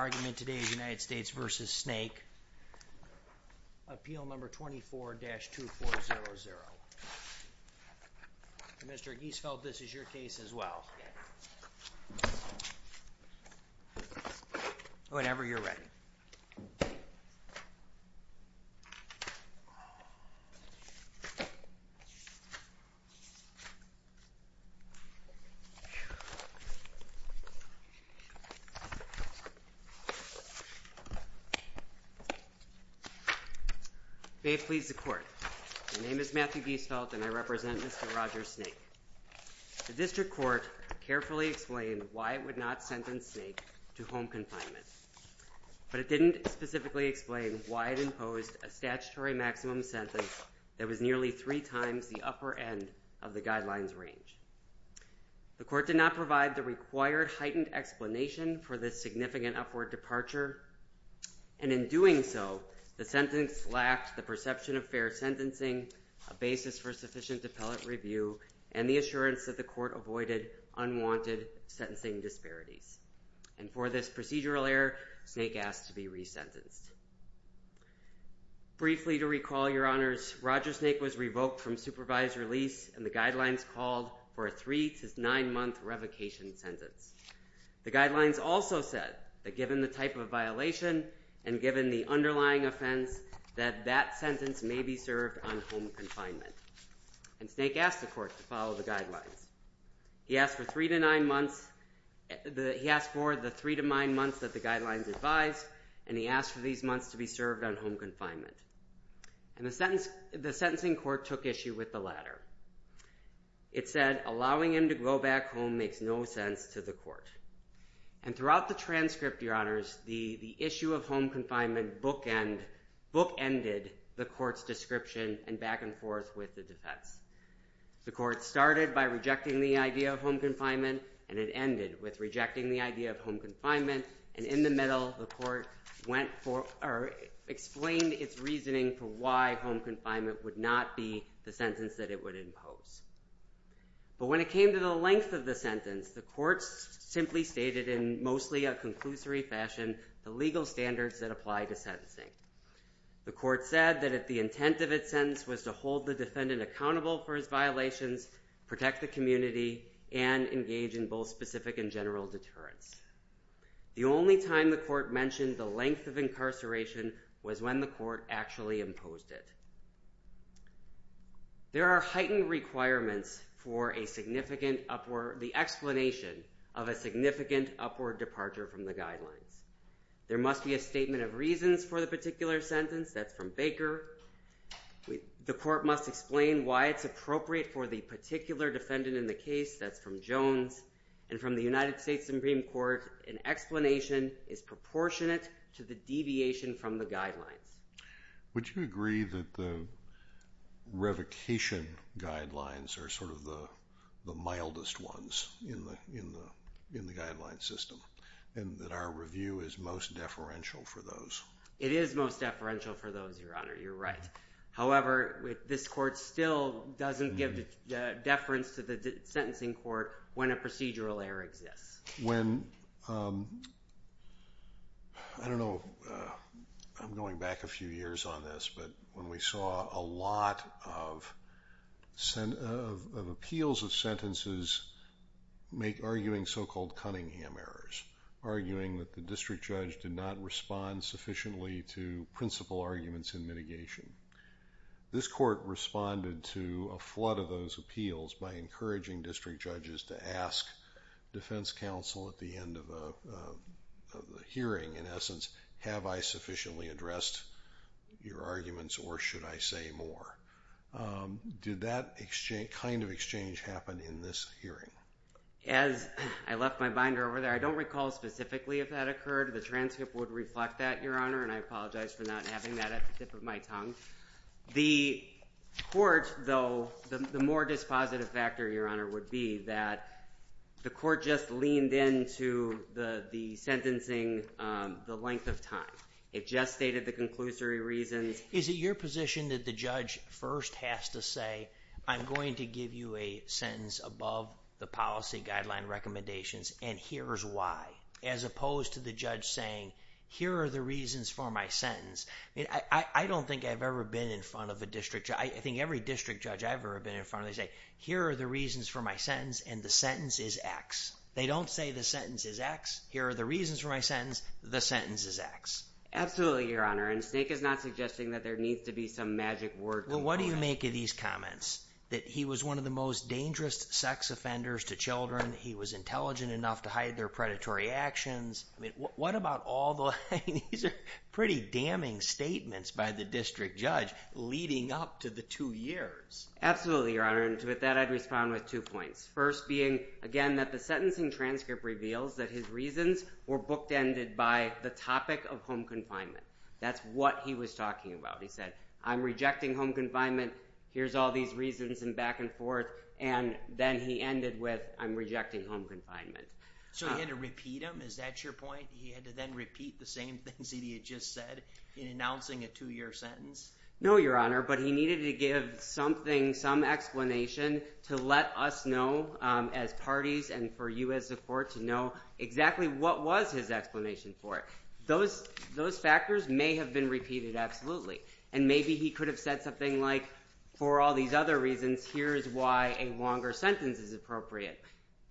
argument today is United States v. Snake. Appeal number 24-2400. Mr. Giesfeld, this is my case as well. Whenever you're ready. May it please the court. My name is Matthew Giesfeld and I represent Mr. Roger Snake. The district court carefully explained why it would not sentence Snake to home confinement, but it didn't specifically explain why it imposed a statutory maximum sentence that was nearly three times the upper end of the guidelines range. The court did not provide the required heightened explanation for this significant upward departure and in doing so, the sentence lacked the perception of fair sentencing, a basis for sufficient appellate review, and the assurance that the court avoided unwanted sentencing disparities. And for this procedural error, Snake asked to be re-sentenced. Briefly to recall your honors, Roger Snake was revoked from supervised release and the guidelines called for a three to nine month revocation sentence. The guidelines also said that given the type of violation and given the underlying offense, that that sentence may be served on home confinement. And Snake asked the court to follow the guidelines. He asked for three to nine months, he asked for the three to nine months that the guidelines advised and he asked for these months to be served on home confinement. And the sentencing court took issue with the latter. It said allowing him to go back home makes no sense to the court. And throughout the transcript, your honors, the issue of home confinement bookended the court's description and back and forth with the defense. The court started by rejecting the idea of home confinement and it ended with rejecting the idea of home reasoning for why home confinement would not be the sentence that it would impose. But when it came to the length of the sentence, the courts simply stated in mostly a conclusory fashion, the legal standards that apply to sentencing. The court said that if the intent of its sentence was to hold the defendant accountable for his violations, protect the community, and engage in both specific and general deterrence. The only time the court mentioned the length of incarceration was when the court actually imposed it. There are heightened requirements for a significant upward, the explanation of a significant upward departure from the guidelines. There must be a statement of reasons for the particular sentence, that's from Baker. The court must explain why it's appropriate for the particular defendant in the case, that's from Jones. And from the United States. Would you agree that the revocation guidelines are sort of the mildest ones in the guideline system and that our review is most deferential for those? It is most deferential for those, your honor, you're right. However, this court still doesn't give the deference to the sentencing court when a procedural error exists. When, I don't know, I'm going back a few years on this, but when we saw a lot of appeals of sentences make arguing so-called Cunningham errors, arguing that the district judge did not respond sufficiently to principle arguments in mitigation. This court responded to a flood of those appeals by encouraging district judges to ask defense counsel at the end of a hearing, in essence, have I sufficiently addressed your arguments or should I say more? Did that exchange, kind of exchange, happen in this hearing? As I left my binder over there, I don't recall specifically if that occurred. The transcript would reflect that, your honor, and I apologize for not having that at the tip of my tongue. The court, though, the more dispositive factor, your honor, would be that the court just leaned into the the sentencing the length of time. It just stated the conclusory reasons. Is it your position that the judge first has to say, I'm going to give you a sentence above the policy guideline recommendations and here's why, as opposed to the judge saying, here are the reasons for my sentence. I don't think I've ever been in front of a district judge. I think every district judge I've ever been in front of, they say, here are the reasons for my sentence and the sentence is X. They don't say the sentence is X. Here are the reasons for my sentence. The sentence is X. Absolutely, your honor, and Snake is not suggesting that there needs to be some magic word. Well, what do you make of these comments? That he was one of the most dangerous sex offenders to children. He was intelligent enough to hide their predatory actions. I mean, what about all the, these are pretty damning statements by the district judge leading up to the two years. Absolutely, your honor, and to that I'd respond with two points. First being, again, that the sentencing transcript reveals that his reasons were booked ended by the topic of home confinement. That's what he was talking about. He said, I'm rejecting home confinement. Here's all these reasons and back and forth, and then he ended with, I'm rejecting home confinement. So he had to repeat them? Is that your point? He had to then repeat the same things that he had just said in announcing a two year sentence? No, your honor, but he needed to give something, some explanation to let us know as parties and for you as a court to know exactly what was his explanation for it. Those factors may have been repeated absolutely, and maybe he could have said something like, for all these other reasons, here's why a longer sentence is appropriate.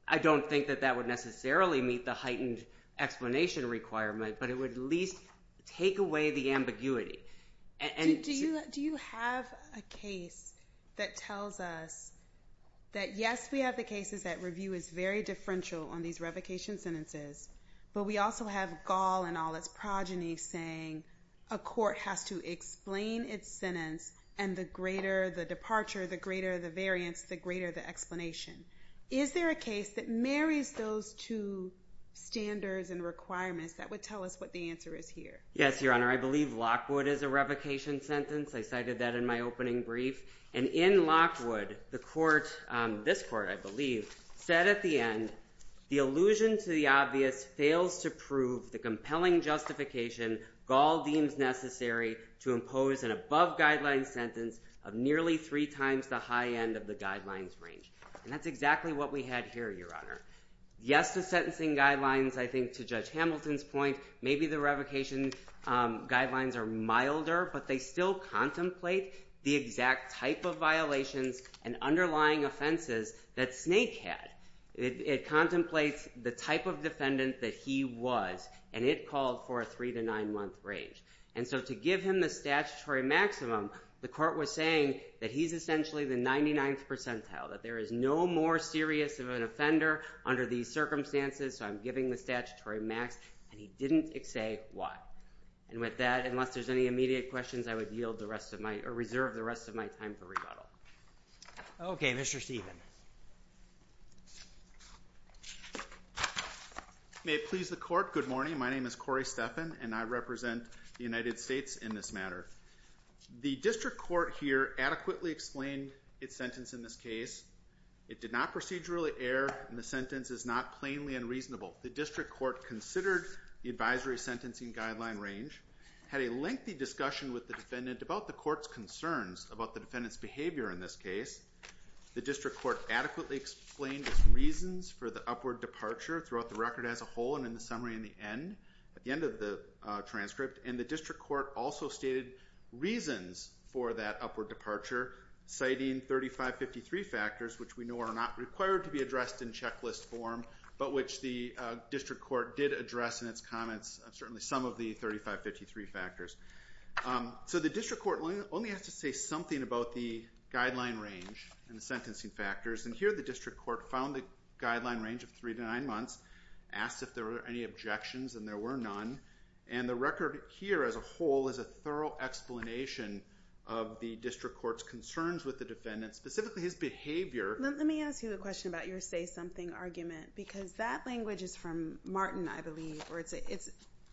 I don't think that that would necessarily meet the heightened explanation requirement, but it would at least take away the ambiguity. Do you have a case that tells us that, yes, we have the cases that review is very differential on these revocation sentences, but we also have Gaul and all its progeny saying a court has to explain its sentence, and the greater the departure, the greater the variance, the greater the explanation. Is there a case that marries those two standards and requirements that would tell us what the answer is here? Yes, your honor, I believe Lockwood is a revocation sentence. I cited that in my opening brief. And in Lockwood, the court, this court, I believe, said at the end, the allusion to the obvious fails to prove the compelling justification Gaul deems necessary to impose an above guideline sentence of nearly three times the high end of the guidelines range. And that's exactly what we had here, your honor. Yes, the sentencing guidelines, I think, to Judge Hamilton's point, maybe the revocation guidelines are milder, but they still contemplate the exact type of violations and underlying offenses that Snake had. It contemplates the type of defendant that he was, and it called for a three to nine month range. And so to give him the statutory maximum, the court was saying that he's essentially the 99th percentile, that there is no more serious of an offender under these circumstances, so I'm giving the statutory max, and he didn't say why. And with that, unless there's any immediate questions, I would yield the rest of my, or reserve the rest of my time for rebuttal. Okay, Mr. Stephen. May it please the court. Good morning. My name is Corey Stephan, and I represent the United States in this matter. The district court here adequately explained its sentence in this case. It did not procedurally err, and the sentence is not plainly unreasonable. The district court considered the advisory sentencing guideline range, had a lengthy discussion with the defendant about the court's concerns about the defendant's behavior in this case. The district court adequately explained its reasons for the upward departure throughout the record as a whole, and in the summary in the end, at the end of the transcript, and the district court also stated reasons for that upward departure, citing 3553 factors, which we know are not required to be addressed in checklist form, but which the district court did address in its comments, and certainly some of the 3553 factors. So the district court only has to say something about the guideline range and the sentencing factors, and here the district court found the guideline range of three to nine months, asked if there were any objections, and there were none. And the record here as a whole is a thorough explanation of the district court's concerns with the defendant, specifically his behavior. Let me ask you a question about your say something argument, because that language is from Martin, I believe, or it's, if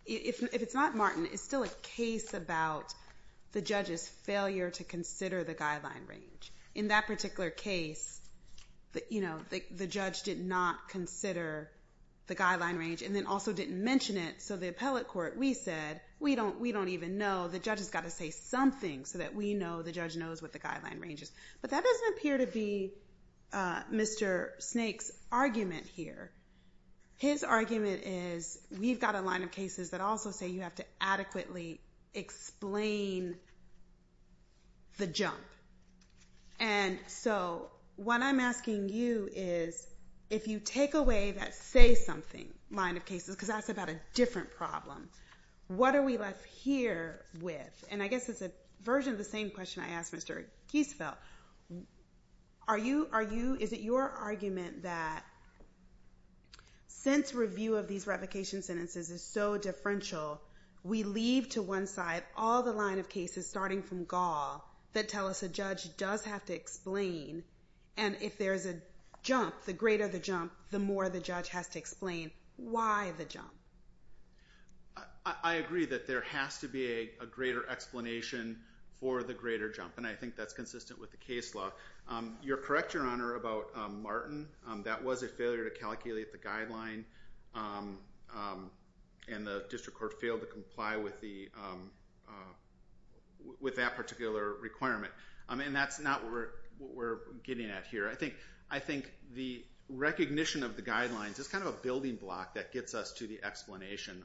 it's not Martin, it's still a case about the judge's failure to consider the guideline range. In that particular case, you know, the judge did not consider the guideline range, and then also didn't mention it, so the appellate court, we said, we don't even know, the judge has got to say something so that we know, the judge knows what the guideline range is. But that doesn't appear to be Mr. Snake's argument here. His argument is, we've got a line of cases that also say you have to adequately explain the jump. And so, what I'm asking you is, if you take away that say something line of cases, because that's about a different problem, what are we left here with? And I guess it's a version of the same question I asked Mr. Giesfeld. Are you, is it your argument that, since review of these revocation sentences is so differential, we leave to one side all the line of cases, starting from Gaul, that tell us a judge does have to explain, and if there's a jump, the greater the jump, the more the judge has to explain why the jump. I agree that there has to be a greater explanation for the greater jump, and I think that's consistent with the case law. You're correct, Your Honor, about Martin, that was a failure to calculate the guideline, and the district court failed to comply with that particular requirement. And that's not what we're getting at here. I think the recognition of the guidelines is kind of a building block that gets us to the explanation.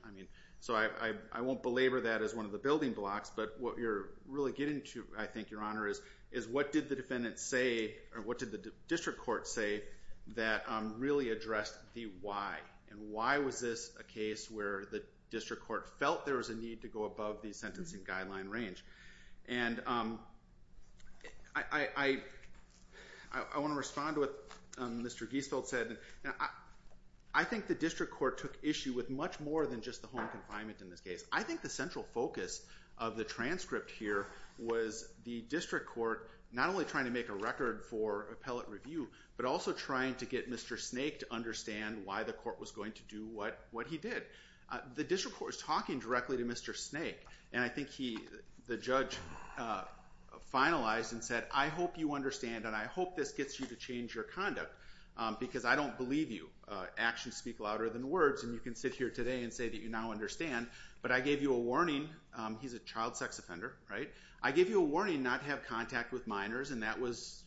So, I won't belabor that as one of the building blocks, but what you're really getting to, I think, Your Honor, is what did the defendant say, or what did the district court say, that really addressed the why? And why was this a case where the district court felt there was a need to go above the sentencing guideline range? And I want to respond to what Mr. Giesfeld said. I think the district court took issue with much more than just the home confinement in this case. I think the central focus of the transcript here was the district court not only trying to make a record for appellate review, but also trying to get Mr. Snake to understand why the court was going to do what he did. The district court was talking directly to Mr. Snake, and I think the judge finalized and said, I hope you understand, and I hope this gets you to change your conduct, because I don't believe you. Actions speak louder than words, and you can sit here today and say that you now understand. But I gave you a warning. He's a child sex offender, right? I gave you a warning not to have contact with minors, and that was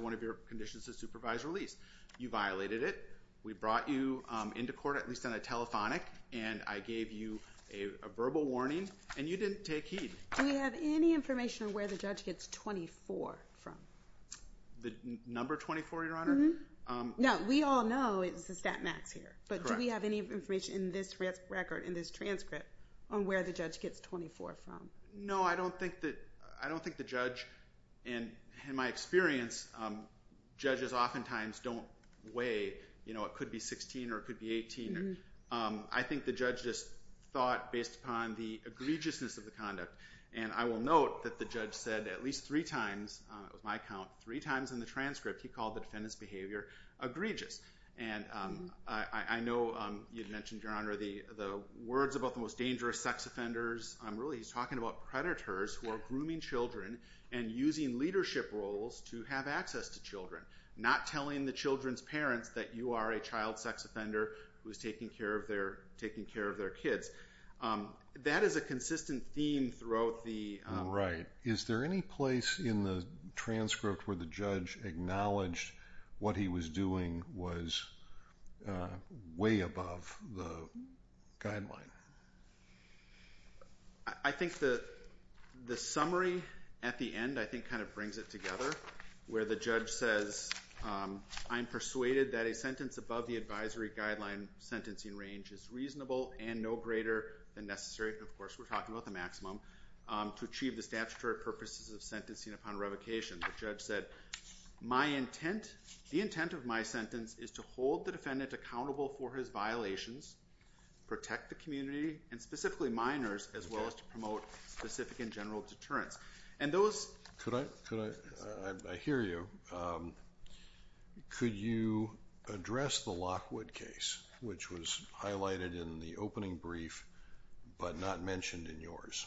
one of your conditions to supervise release. You violated it. We brought you into court, at least on a telephonic, and I gave you a verbal warning, and you didn't take heed. Do we have any information on where the judge gets 24 from? The number 24, Your Honor? Mm-hmm. No, we all know it's the stat max here. But do we have any information in this record, in this transcript, on where the judge gets 24 from? No, I don't think the judge, and in my experience, judges oftentimes don't weigh, you know, it could be 16 or it could be 18. I think the judge just thought based upon the egregiousness of the conduct, and I will note that the judge said at least three times, on my count, three times in the transcript he called the defendant's behavior egregious. And I know you mentioned, Your Honor, the words about the most dangerous sex offenders. Really, he's talking about predators who are grooming children and using leadership roles to have access to children, not telling the children's parents that you are a child sex offender who is taking care of their kids. That is a consistent theme throughout the… Right. Is there any place in the transcript where the judge acknowledged what he was doing was way above the guideline? I think the summary at the end, I think, kind of brings it together, where the judge says, I am persuaded that a sentence above the advisory guideline sentencing range is reasonable and no greater than necessary. Of course, we're talking about the maximum to achieve the statutory purposes of sentencing upon revocation. The judge said, my intent, the intent of my sentence is to hold the defendant accountable for his violations, protect the community, and specifically minors, as well as to promote specific and general deterrence. And those… I hear you. Could you address the Lockwood case, which was highlighted in the opening brief but not mentioned in yours?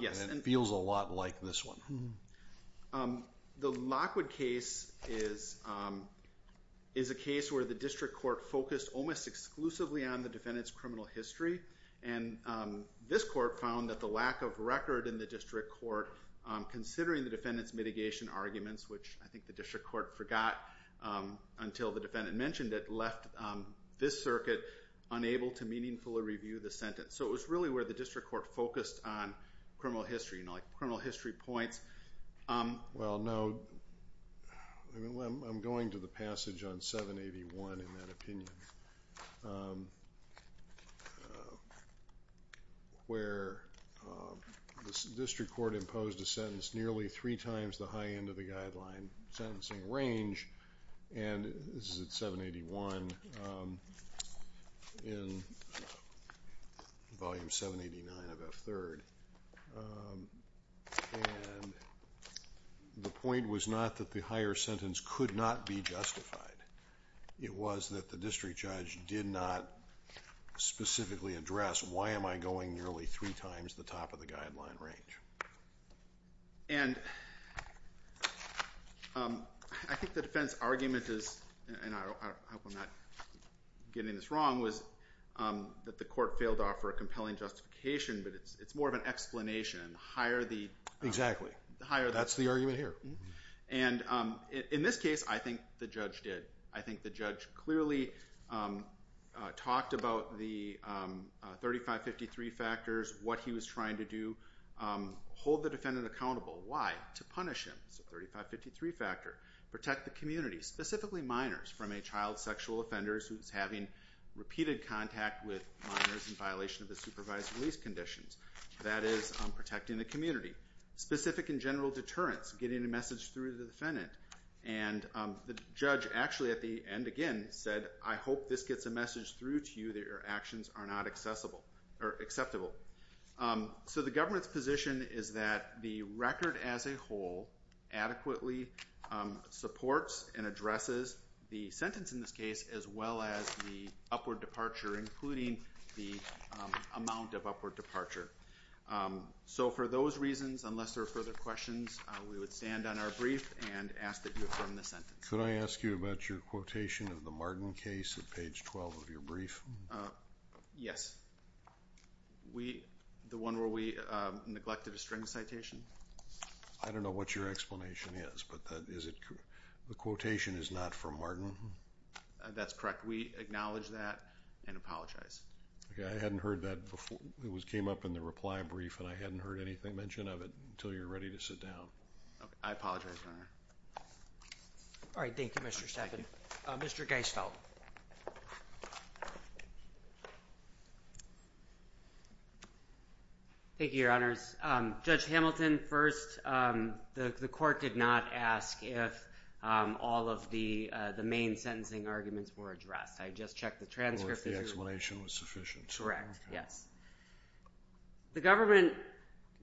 Yes. And it feels a lot like this one. The Lockwood case is a case where the district court focused almost exclusively on the defendant's criminal history. And this court found that the lack of record in the district court, considering the defendant's mitigation arguments, which I think the district court forgot until the defendant mentioned it, left this circuit unable to meaningfully review the sentence. So it was really where the district court focused on criminal history, you know, like criminal history points. Well, no. I'm going to the passage on 781 in that opinion, where the district court imposed a sentence nearly three times the high end of the guideline sentencing range, and this is at 781 in Volume 789 of F-3rd, and the point was not that the higher sentence could not be justified. It was that the district judge did not specifically address, why am I going nearly three times the top of the guideline range? And I think the defense argument is, and I hope I'm not getting this wrong, was that the court failed to offer a compelling justification, but it's more of an explanation. Exactly. That's the argument here. And in this case, I think the judge did. I think the judge clearly talked about the 3553 factors, what he was trying to do, hold the defendant accountable. Why? To punish him. It's a 3553 factor. Protect the community, specifically minors from a child, sexual offenders who's having repeated contact with minors in violation of the supervised release conditions. That is protecting the community. Specific and general deterrence, getting a message through the defendant. And the judge actually, at the end again, said, I hope this gets a message through to you that your actions are not acceptable. So the government's position is that the record as a whole adequately supports and addresses the sentence in this case, as well as the upward departure, including the amount of upward departure. So for those reasons, unless there are further questions, we would stand on our brief and ask that you affirm the sentence. Could I ask you about your quotation of the Martin case at page 12 of your brief? Yes. The one where we neglected a string citation? I don't know what your explanation is, but the quotation is not from Martin? That's correct. We acknowledge that and apologize. I hadn't heard that before. It came up in the reply brief, and I hadn't heard anything mentioned of it until you were ready to sit down. I apologize, Your Honor. All right. Thank you, Mr. Stafford. Mr. Geisfeld. Thank you, Your Honors. Judge Hamilton, first, the court did not ask if all of the main sentencing arguments were addressed. I just checked the transcript. Oh, if the explanation was sufficient. Correct, yes. The government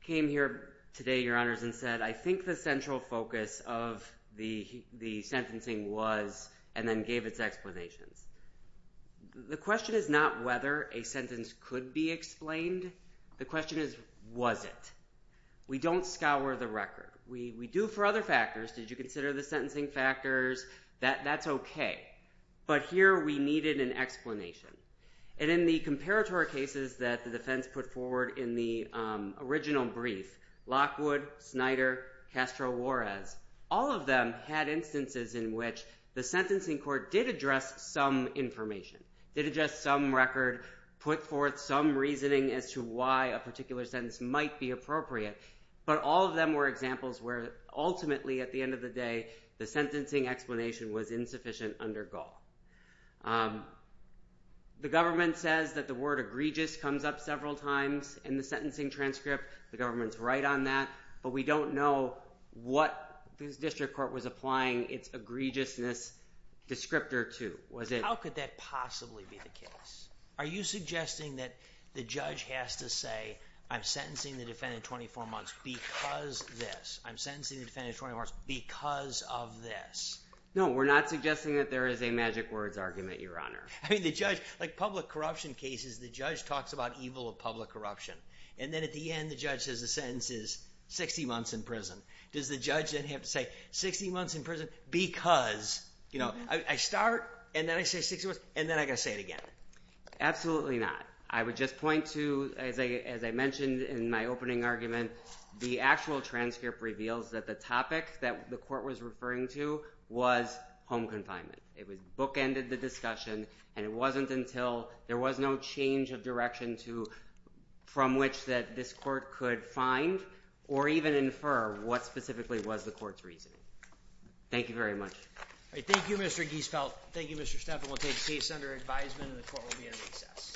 came here today, Your Honors, and said, I think the central focus of the sentencing was, and then gave its explanations. The question is not whether a sentence could be explained. The question is, was it? We don't scour the record. We do for other factors. Did you consider the sentencing factors? That's okay. But here, we needed an explanation. And in the comparatory cases that the defense put forward in the original brief, Lockwood, Snyder, Castro-Juarez, all of them had instances in which the sentencing court did address some information, did address some record, put forth some reasoning as to why a particular sentence might be appropriate. But all of them were examples where, ultimately, at the end of the day, the sentencing explanation was insufficient under Gaul. The government says that the word egregious comes up several times in the sentencing transcript. The government's right on that. But we don't know what this district court was applying its egregiousness descriptor to. How could that possibly be the case? Are you suggesting that the judge has to say, I'm sentencing the defendant 24 months because this? I'm sentencing the defendant 24 months because of this? No, we're not suggesting that there is a magic words argument, Your Honor. Like public corruption cases, the judge talks about evil of public corruption. And then at the end, the judge says the sentence is 60 months in prison. Does the judge then have to say 60 months in prison because, you know, I start, and then I say 60 months, and then I got to say it again? Absolutely not. I would just point to, as I mentioned in my opening argument, the actual transcript reveals that the topic that the court was referring to was home confinement. It bookended the discussion, and it wasn't until there was no change of direction from which this court could find or even infer what specifically was the court's reasoning. Thank you very much. Thank you, Mr. Giesfeldt. Thank you, Mr. Stefan. We'll take case under advisement, and the court will be in recess. Thank you.